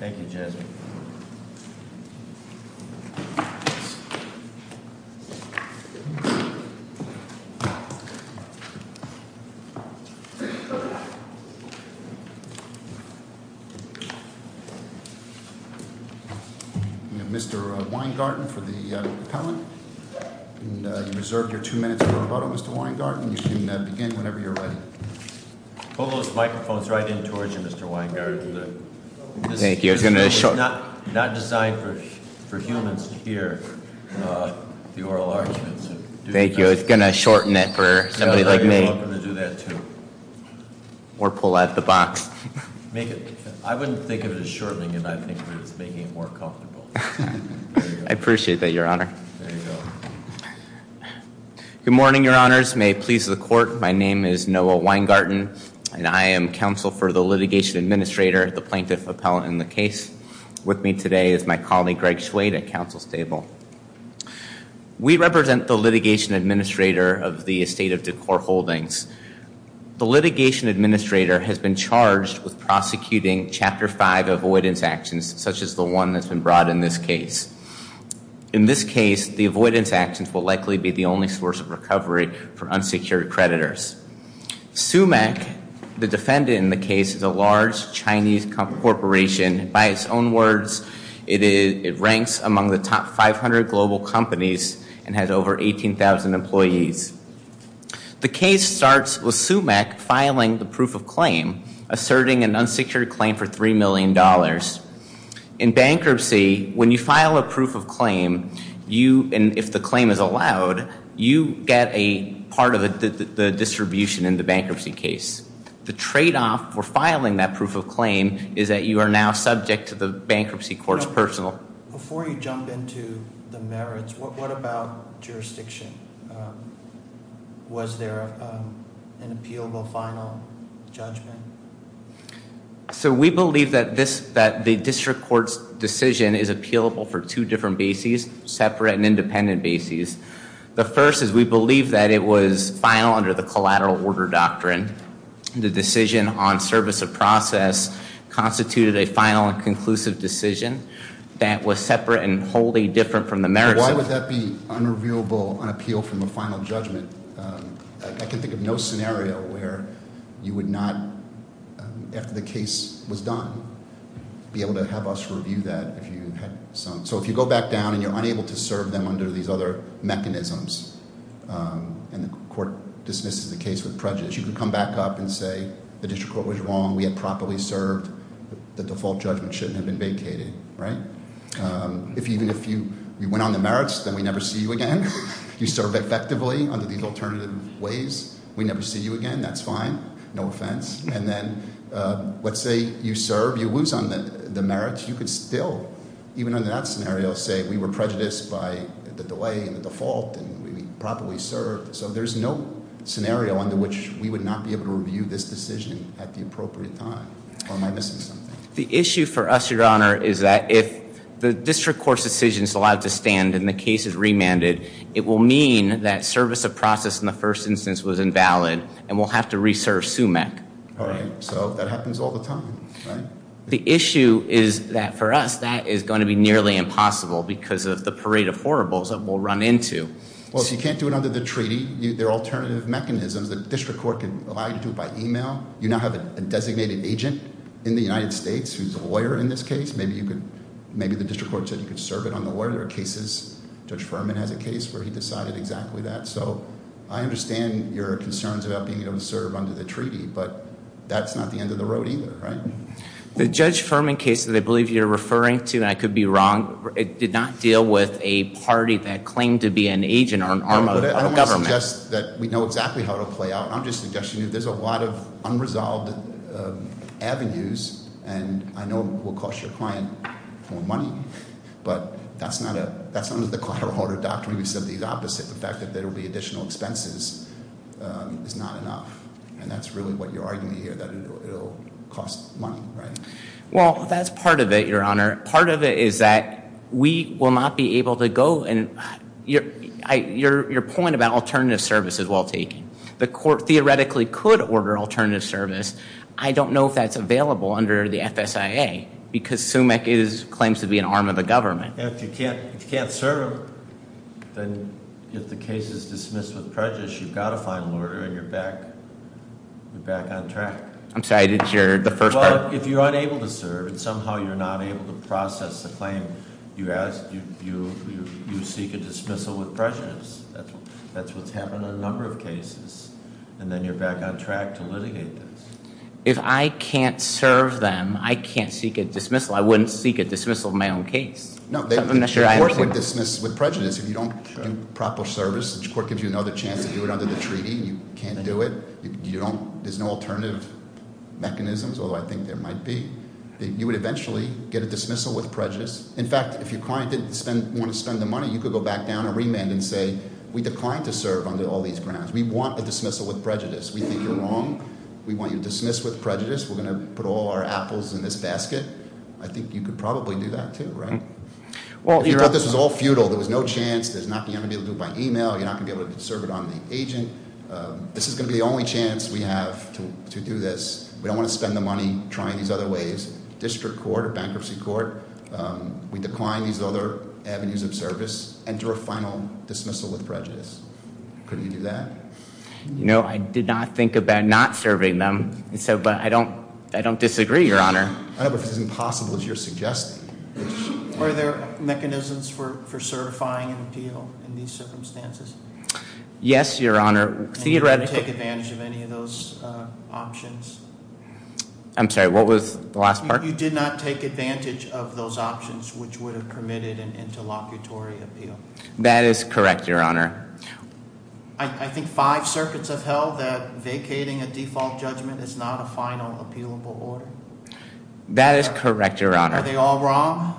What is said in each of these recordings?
Thank you, Jason. Mr. Weingarten for the appellant. You reserved your two minutes of rebuttal, Mr. Weingarten. Mr. Weingarten, you can begin whenever you're ready. Pull those microphones right in towards you, Mr. Weingarten. It's not designed for humans to hear the oral arguments. Thank you. I was going to shorten it for somebody like me. You're welcome to do that, too. Or pull out the box. I wouldn't think of it as shortening it. I think of it as making it more comfortable. I appreciate that, Your Honor. Good morning, Your Honors. May it please the Court, my name is Noah Weingarten. I am counsel for the litigation administrator, the plaintiff appellant in the case. With me today is my colleague, Greg Schwade, at counsel's table. We represent the litigation administrator of the estate of Decor Holdings. The litigation administrator has been charged with prosecuting Chapter 5 avoidance actions, such as the one that's been brought in this case. In this case, the avoidance actions will likely be the only source of recovery for unsecured creditors. SUMEC, the defendant in the case, is a large Chinese corporation. By its own words, it ranks among the top 500 global companies and has over 18,000 employees. The case starts with SUMEC filing the proof of claim, asserting an unsecured claim for $3 million. In bankruptcy, when you file a proof of claim, and if the claim is allowed, you get part of the distribution in the bankruptcy case. The trade-off for filing that proof of claim is that you are now subject to the bankruptcy court's personal... Before you jump into the merits, what about jurisdiction? Was there an appealable final judgment? So we believe that the district court's decision is appealable for two different bases, separate and independent bases. The first is we believe that it was final under the collateral order doctrine. The decision on service of process constituted a final and conclusive decision that was separate and wholly different from the merits of... Why would that be unrevealable on appeal from a final judgment? I can think of no scenario where you would not, after the case was done, be able to have us review that if you had some... So if you go back down and you're unable to serve them under these other mechanisms and the court dismisses the case with prejudice, you can come back up and say the district court was wrong, we had properly served, the default judgment shouldn't have been vacated, right? Even if you went on the merits, then we never see you again. You served effectively under these alternative ways, we never see you again, that's fine, no offense. And then let's say you serve, you lose on the merits, you could still even under that scenario say we were prejudiced by the delay and the default and we properly served. So there's no scenario under which we would not be able to review this decision at the appropriate time or am I missing something? The issue for us, your honor, is that if the district court's decision is allowed to stand and the case is remanded, it will mean that service of process in the first instance was invalid and we'll have to re-serve SUMEC. Alright, so that happens all the time, right? The issue is that for us, that is going to be nearly impossible because of the parade of horribles that we'll run into. Well if you can't do it under the treaty there are alternative mechanisms, the district court can allow you to do it by email, you now have a designated agent in the United States who's a lawyer in this case maybe the district court said you could serve it on the lawyer, there are cases Judge Furman has a case where he decided exactly that, so I understand your concerns about being able to serve under the treaty, but that's not the end of the road either, right? The Judge Furman case that I believe you're referring to, and I could be wrong, it did not deal with a party that claimed to be an agent or an arm of government. I don't want to suggest that we know exactly how it'll play out I'm just suggesting if there's a lot of unresolved avenues and I know it will cost your client more money but that's not under the collateral order doctrine, we said the opposite the fact that there will be additional expenses is not enough and that's really what you're arguing here, that it'll cost money, right? Well that's part of it, your honor. Part of it is that we will not be able to go, and your point about alternative service is well taken. The court theoretically could order alternative service, I don't know if that's available under the FSIA because SUMIC claims to be an arm of the government. If you can't serve them, then if the case is dismissed with prejudice you've got to find an order and you're back on track. I'm sorry, I didn't hear the first part. Well, if you're unable to serve and somehow you're not able to process the claim, you seek a dismissal with prejudice. That's what's happened in a number of cases and then you're back on track to litigate this. If I can't serve them, I can't seek a dismissal. I wouldn't seek a dismissal in my own case. No, the court would dismiss with prejudice if you don't do proper service. The court gives you another chance to do it under the treaty. You can't do it. There's no alternative mechanisms, although I think there might be. You would eventually get a dismissal with prejudice. In fact, if your client didn't want to spend the money, you could go back down and remand and say, we declined to serve under all these grounds. We want a dismissal with prejudice. We think you're wrong. We want you to dismiss with prejudice. We're going to put all our apples in this basket. I think you could probably do that too, right? If you thought this was all futile, there was no chance. There's not going to be able to do it by email. You're not going to be able to serve it on the agent. This is going to be the only chance we have to do this. We don't want to spend the money trying these other ways. District court or bankruptcy court, we decline these other avenues of service. Enter a final dismissal with prejudice. Could you do that? I did not think about not serving them, but I don't disagree, Your Honor. Were there mechanisms for certifying an appeal in these circumstances? Yes, Your Honor. Did you take advantage of any of those options? I'm sorry, what was the last part? You did not take advantage of those options which would have committed an interlocutory appeal. That is correct, Your Honor. I think five circuits have held that vacating a default judgment is not a final appealable order. That is correct, Your Honor. Are they all wrong?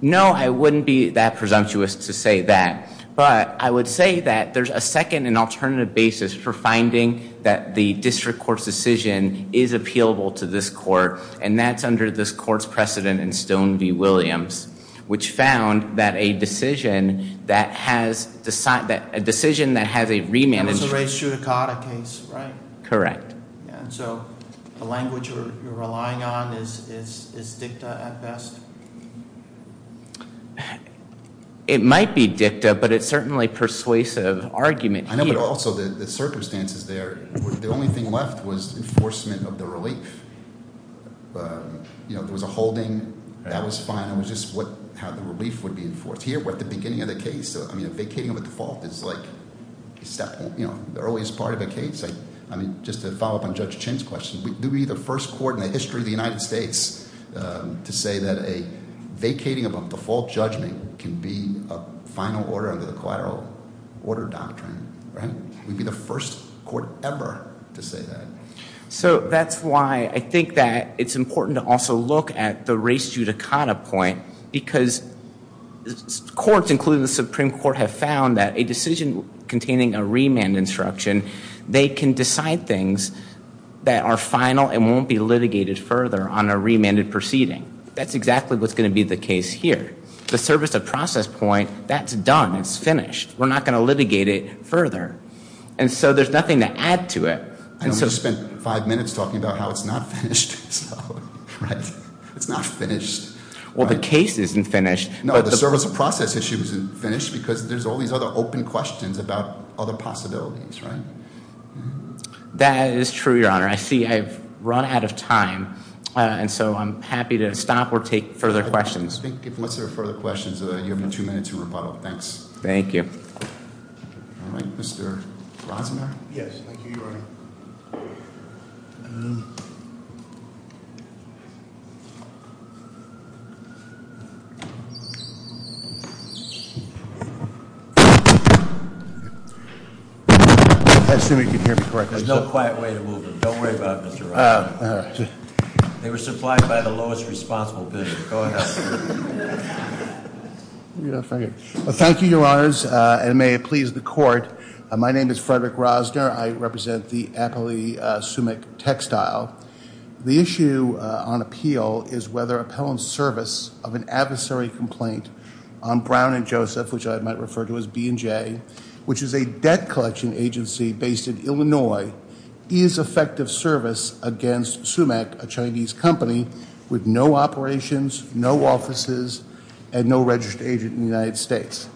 No, I wouldn't be that presumptuous to say that, but I would say that there's a second and alternative basis for finding that the district court's decision is appealable to this court, and that's under this court's precedent in Stone v. Williams, which found that a decision that has a remanagement... And it's a race judicata case, right? Correct. The language you're relying on is dicta at best? It might be dicta, but it's certainly persuasive argument here. I know, but also the circumstances there the only thing left was enforcement of the relief. There was a holding. That was fine. It was just how the relief would be enforced. Here, we're at the beginning of the case. A vacating of a default is the earliest part of a case. Just to follow up on Judge Chin's question, do we need the first court in the history of the United States to say that a vacating of a default judgment can be a final order under the collateral order doctrine? We'd be the first court ever to say that. So that's why I think that it's important to also look at the race judicata point, because courts including the Supreme Court have found that a decision containing a remand instruction, they can decide things that are final and won't be litigated further on a remanded proceeding. That's exactly what's going to be the case here. The service of process point, that's done. It's finished. We're not going to litigate it further. And so there's nothing to add to it. I don't want to spend five minutes talking about how it's not finished. It's not finished. Well, the case isn't finished. No, the service of process issue isn't finished because there's all these other open questions about other possibilities. That is true, Your Honor. I see I've run out of time. And so I'm happy to stop or take further questions. If there are no further questions, you have two minutes to rebuttal. Thanks. Thank you. All right, Mr. Rosenberg. Yes, thank you, Your Honor. I assume you can hear me correctly. There's no quiet way to move it. Don't worry about it, Mr. Rosenberg. They were supplied by the lowest responsible bidder. Go ahead. Thank you, Your Honors. And may it please the Court, my name is Frederick Rosner. I represent the Appellee Sumac Textile. The issue on appeal is whether appellant's service of an adversary complaint on Brown and Joseph, which I might refer to as B&J, which is a debt collection agency based in Illinois, is effective service against Sumac, a Chinese company with no operations, no offices, and no registered agent in the United States.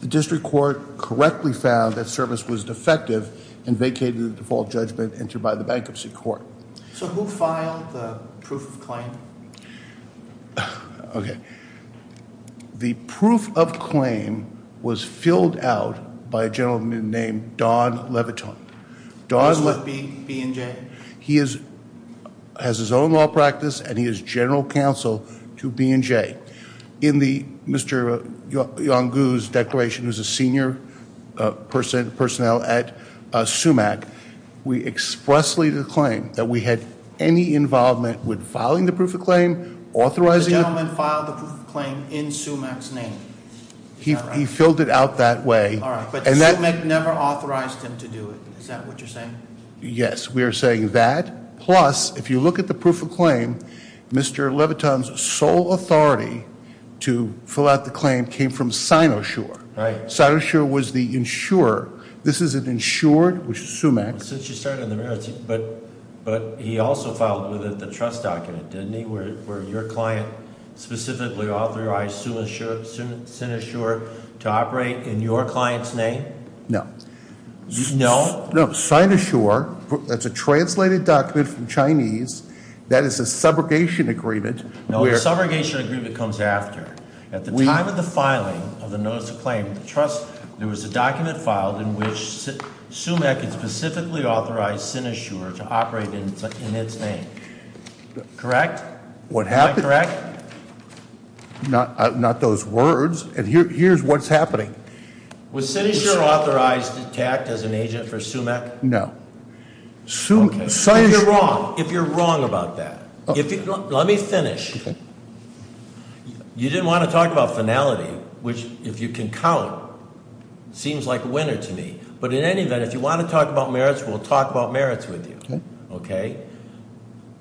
The District Court correctly found that service was defective and vacated the default judgment entered by the Bankruptcy Court. So who filed the proof of claim? Okay. The proof of claim was filled out by a gentleman named Don Leviton. He's with B&J? He has his own law practice and he is General Counsel to B&J. In Mr. Yonggu's declaration, who's a senior personnel at Sumac, we expressly claim that we had any involvement with filing the proof of claim, authorizing it. The gentleman filed the proof of claim in Sumac's name? He filled it out that way. But Sumac never authorized him to do it. Is that what you're saying? Yes, we are saying that. Plus, if you look at the proof of claim, Mr. Leviton's sole authority to fill out the claim came from Sinoshare. Sinoshare was the insurer. This is an insured, which is Sumac. Since you started in the marriage, but he also filed with it the trust document, didn't he, where your client specifically authorized Sinoshare to operate in your client's name? No. Sinoshare, that's a translated document from Chinese. That is a subrogation agreement. No, a subrogation agreement comes after. At the time of the filing of the notice of claim, there was a document filed in which Sumac had specifically authorized Sinoshare to operate in its name. Correct? Am I correct? Not those words. And here's what's happening. Was Sinoshare authorized to act as an agent for Sumac? No. If you're wrong about that. Let me finish. You didn't want to talk about finality, which if you can count, seems like a winner to me. But in any event, if you want to talk about merits, we'll talk about merits with you.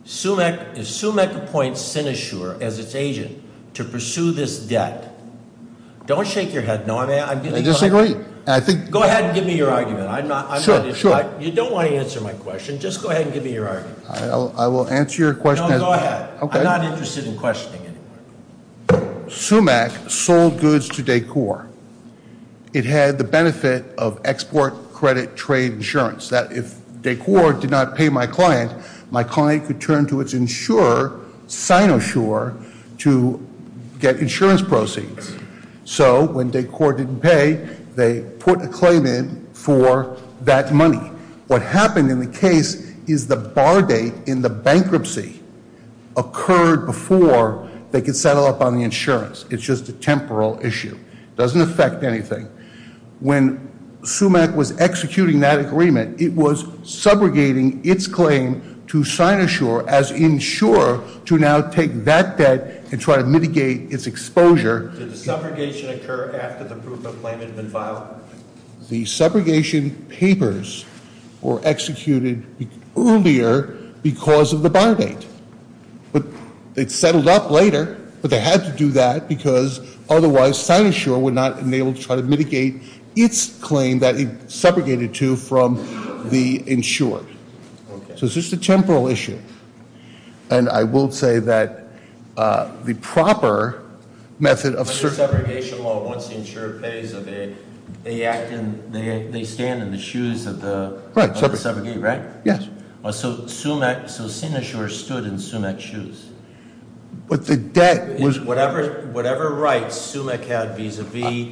If Sumac appoints Sinoshare as its agent to pursue this debt, don't shake your head. I disagree. Go ahead and give me your argument. You don't want to answer my question. Just go ahead and give me your argument. I will answer your question. No, go ahead. I'm not interested in questioning it. Sumac sold goods to Decor. It had the benefit of export credit trade insurance. If Decor did not pay my client, my client could turn to its insurer, Sinoshare, to get insurance proceeds. So when Decor didn't pay, they put a claim in for that money. What happened in the case is the bar date in the bankruptcy occurred before they could settle up on the insurance. It's just a temporal issue. It doesn't affect anything. When Sumac was executing that agreement, it was subrogating its claim to Sinoshare as insurer to now take that debt and try to mitigate its exposure. Did the subrogation occur after the proof of claim had been filed? The subrogation papers were executed earlier because of the bar date. It settled up later, but they had to do that because otherwise Sinoshare would not have been able to try to mitigate its claim that it subrogated to from the insurer. So it's just a temporal issue. And I will say that the proper method of- The subrogation law, once the insurer pays, they stand in the shoes of the subrogate, right? Yes. So Sinoshare stood in Sumac's shoes. Whatever rights Sumac had vis-a-vis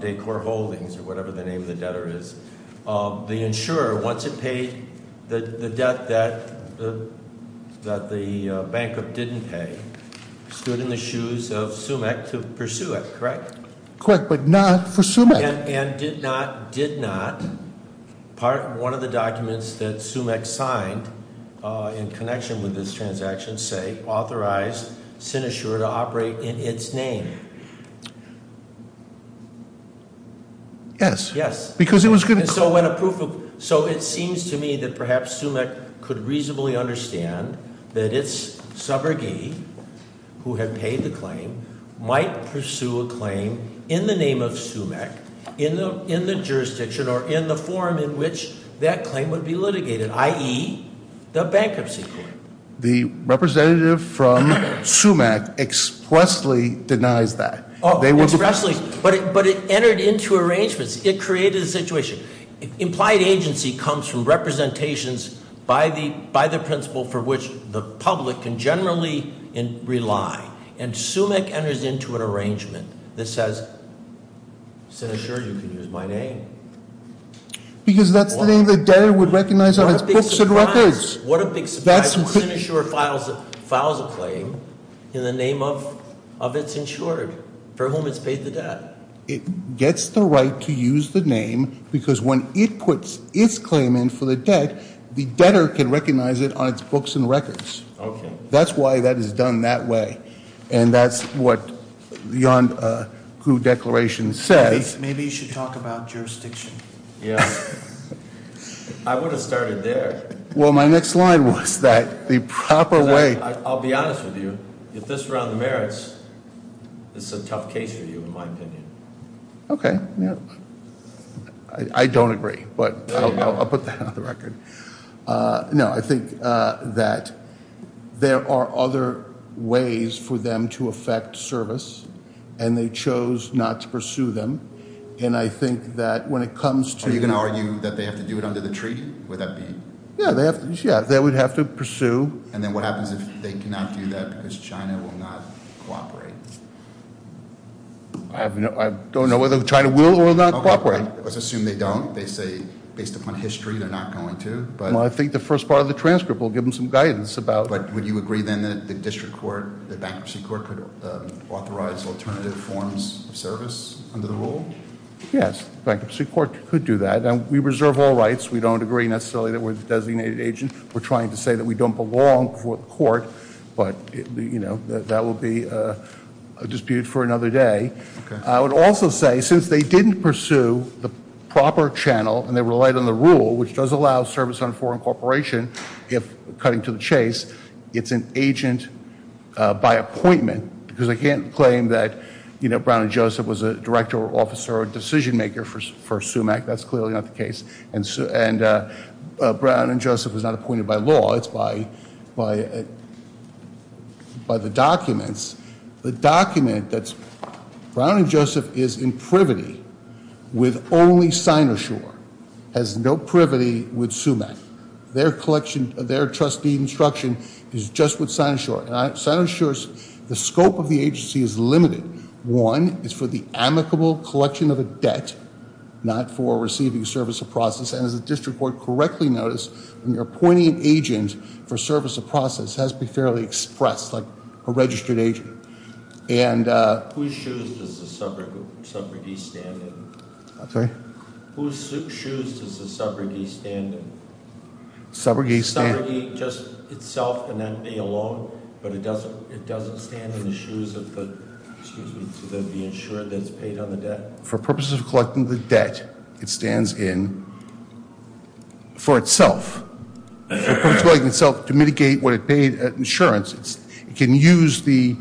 Decor Holdings, or whatever the name of the debtor is, the insurer, once it realized that the bankrupt didn't pay, stood in the shoes of Sumac to pursue it, correct? Correct, but not for Sumac. And did not one of the documents that Sumac signed in connection with this transaction say, authorize Sinoshare to operate in its name? Yes. Yes. Because it was going to- So it seems to me that perhaps Sumac could reasonably understand that its subrogate, who had paid the claim, might pursue a claim in the name of Sumac, in the jurisdiction, or in the form in which that claim would be litigated, i.e., the bankruptcy claim. The representative from Sumac expressly denies that. Expressly, but it entered into the situation. Implied agency comes from representations by the principal for which the public can generally rely. And Sumac enters into an arrangement that says, Sinoshare, you can use my name. Because that's the name the debtor would recognize on his books and records. What a big surprise when Sinoshare files a claim in the name of its insured, for whom it's paid the debt. It gets the right to use the name because when it puts its claim in for the debt, the debtor can recognize it on its books and records. That's why that is done that way. And that's what the Yon Koo Declaration says. Maybe you should talk about jurisdiction. I would have started there. Well, my next line was that the proper way- I'll be honest with you. If this were on the merits, this is a tough case for you, in my opinion. I don't agree, but I'll put that on the record. No, I think that there are other ways for them to affect service and they chose not to pursue them. And I think that when it comes to- Are you going to argue that they have to do it under the treaty? Yeah, they would have to pursue. And then what happens if they cannot do that because China will not cooperate? I don't know whether China will or will not cooperate. Let's assume they don't. They say, based upon history, they're not going to. Well, I think the first part of the transcript will give them some guidance about- But would you agree then that the district court, the bankruptcy court, could authorize alternative forms of service under the rule? Yes, the bankruptcy court could do that. And we reserve all rights. We don't agree necessarily that we're the designated agent. We're trying to say that we don't belong before the court, but that will be a dispute for another day. I would also say, since they didn't pursue the proper channel and they relied on the rule, which does allow service on foreign corporation, if cutting to the chase, it's an agent by appointment. Because I can't claim that Brown and Joseph was a director or officer or decision maker for SUMAC. That's clearly not the case. And Brown and Joseph was not appointed by law. It's by the documents. The document that Brown and Joseph is in privity with only Sinoshore has no privity with SUMAC. Their collection, their trustee instruction is just with Sinoshore. Sinoshore's scope of the agency is limited. One is for the amicable collection of a debt, not for receiving service or process. And as the appointing agent for service or process has to be fairly expressed like a registered agent. Whose shoes does the subrogate stand in? Whose shoes does the subrogate stand in? Subrogate just itself and that may alone, but it doesn't stand in the shoes of the insured that's paid on the debt? For purposes of collecting the debt, it stands in for itself. To mitigate what it paid at insurance. It can use the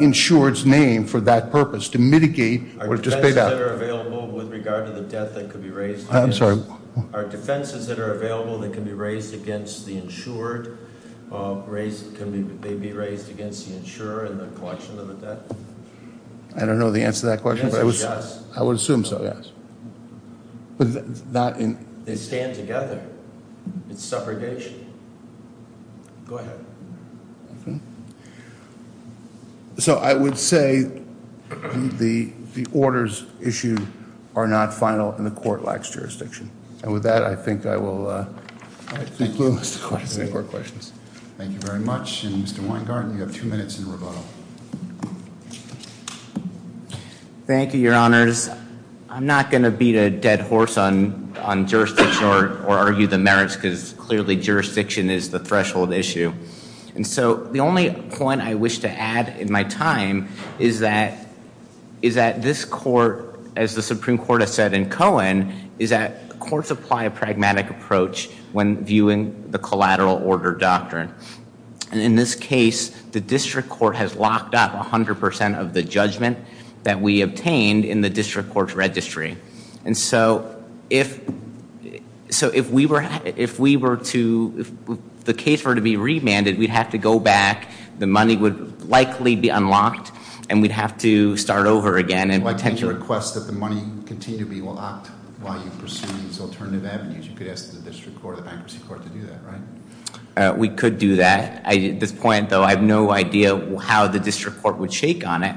insured's name for that purpose to mitigate what it just paid out. Are defenses that are available with regard to the debt that could be raised? I'm sorry? Are defenses that are available that can be raised against the insured can they be raised against the insurer in the collection of the debt? I don't know the answer to that question, but I would assume so, yes. They stand together. It's subrogation. Go ahead. So I would say the orders issued are not final and the court lacks jurisdiction. And with that I think I will conclude. Thank you very much. And Mr. Weingarten, you have two minutes in rebuttal. Thank you, Your Honors. I'm not going to beat a dead horse on jurisdiction or argue the merits because clearly jurisdiction is the threshold issue. And so the only point I wish to add in my time is that this court, as the Supreme Court has said in Cohen, is that courts apply a pragmatic approach when viewing the collateral order doctrine. And in this case the district court has locked up 100% of the judgment that we obtained in the district court's registry. So if we were to, if the case were to be remanded, we'd have to go back, the money would likely be unlocked, and we'd have to start over again. I'd like to request that the money continue to be locked while you pursue these alternative avenues. You could ask the district court or the bankruptcy court to do that, right? We could do that. At this point, though, I have no idea how the district court would shake on it.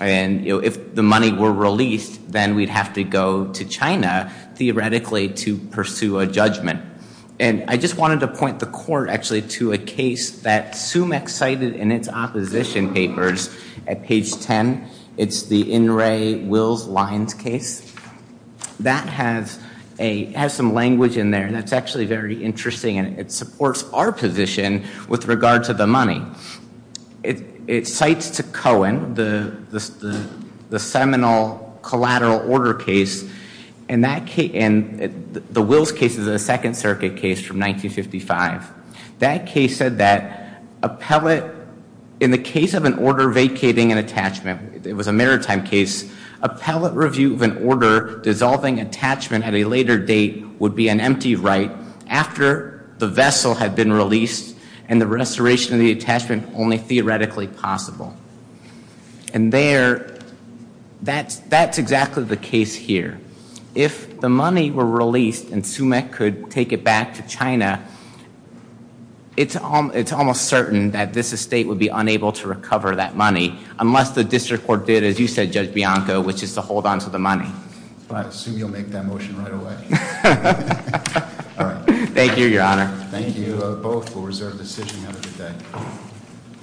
And if the money were released, then we'd have to go to China, theoretically, to pursue a judgment. And I just wanted to point the court, actually, to a case that Sumac cited in its opposition papers at page 10. It's the In Re Wills Lines case. That has some language in there that's actually very interesting, and it supports our position with regard to the money. It cites to Cohen the seminal collateral order case and the Wills case is a Second Circuit case from 1955. That case said that appellate in the case of an order vacating an attachment, it was a maritime case, appellate review of an order dissolving attachment at a later date would be an empty right after the vessel had been released and the restoration of the attachment only theoretically possible. And there, that's exactly the case here. If the money were released and Sumac could take it back to China, it's almost certain that this estate would be unable to recover that money unless the district court did, as you said, Judge Bianco, which is to hold onto the money. I assume you'll make that motion right away. Thank you, Your Honor. Thank you both. We'll reserve the decision and have a good day.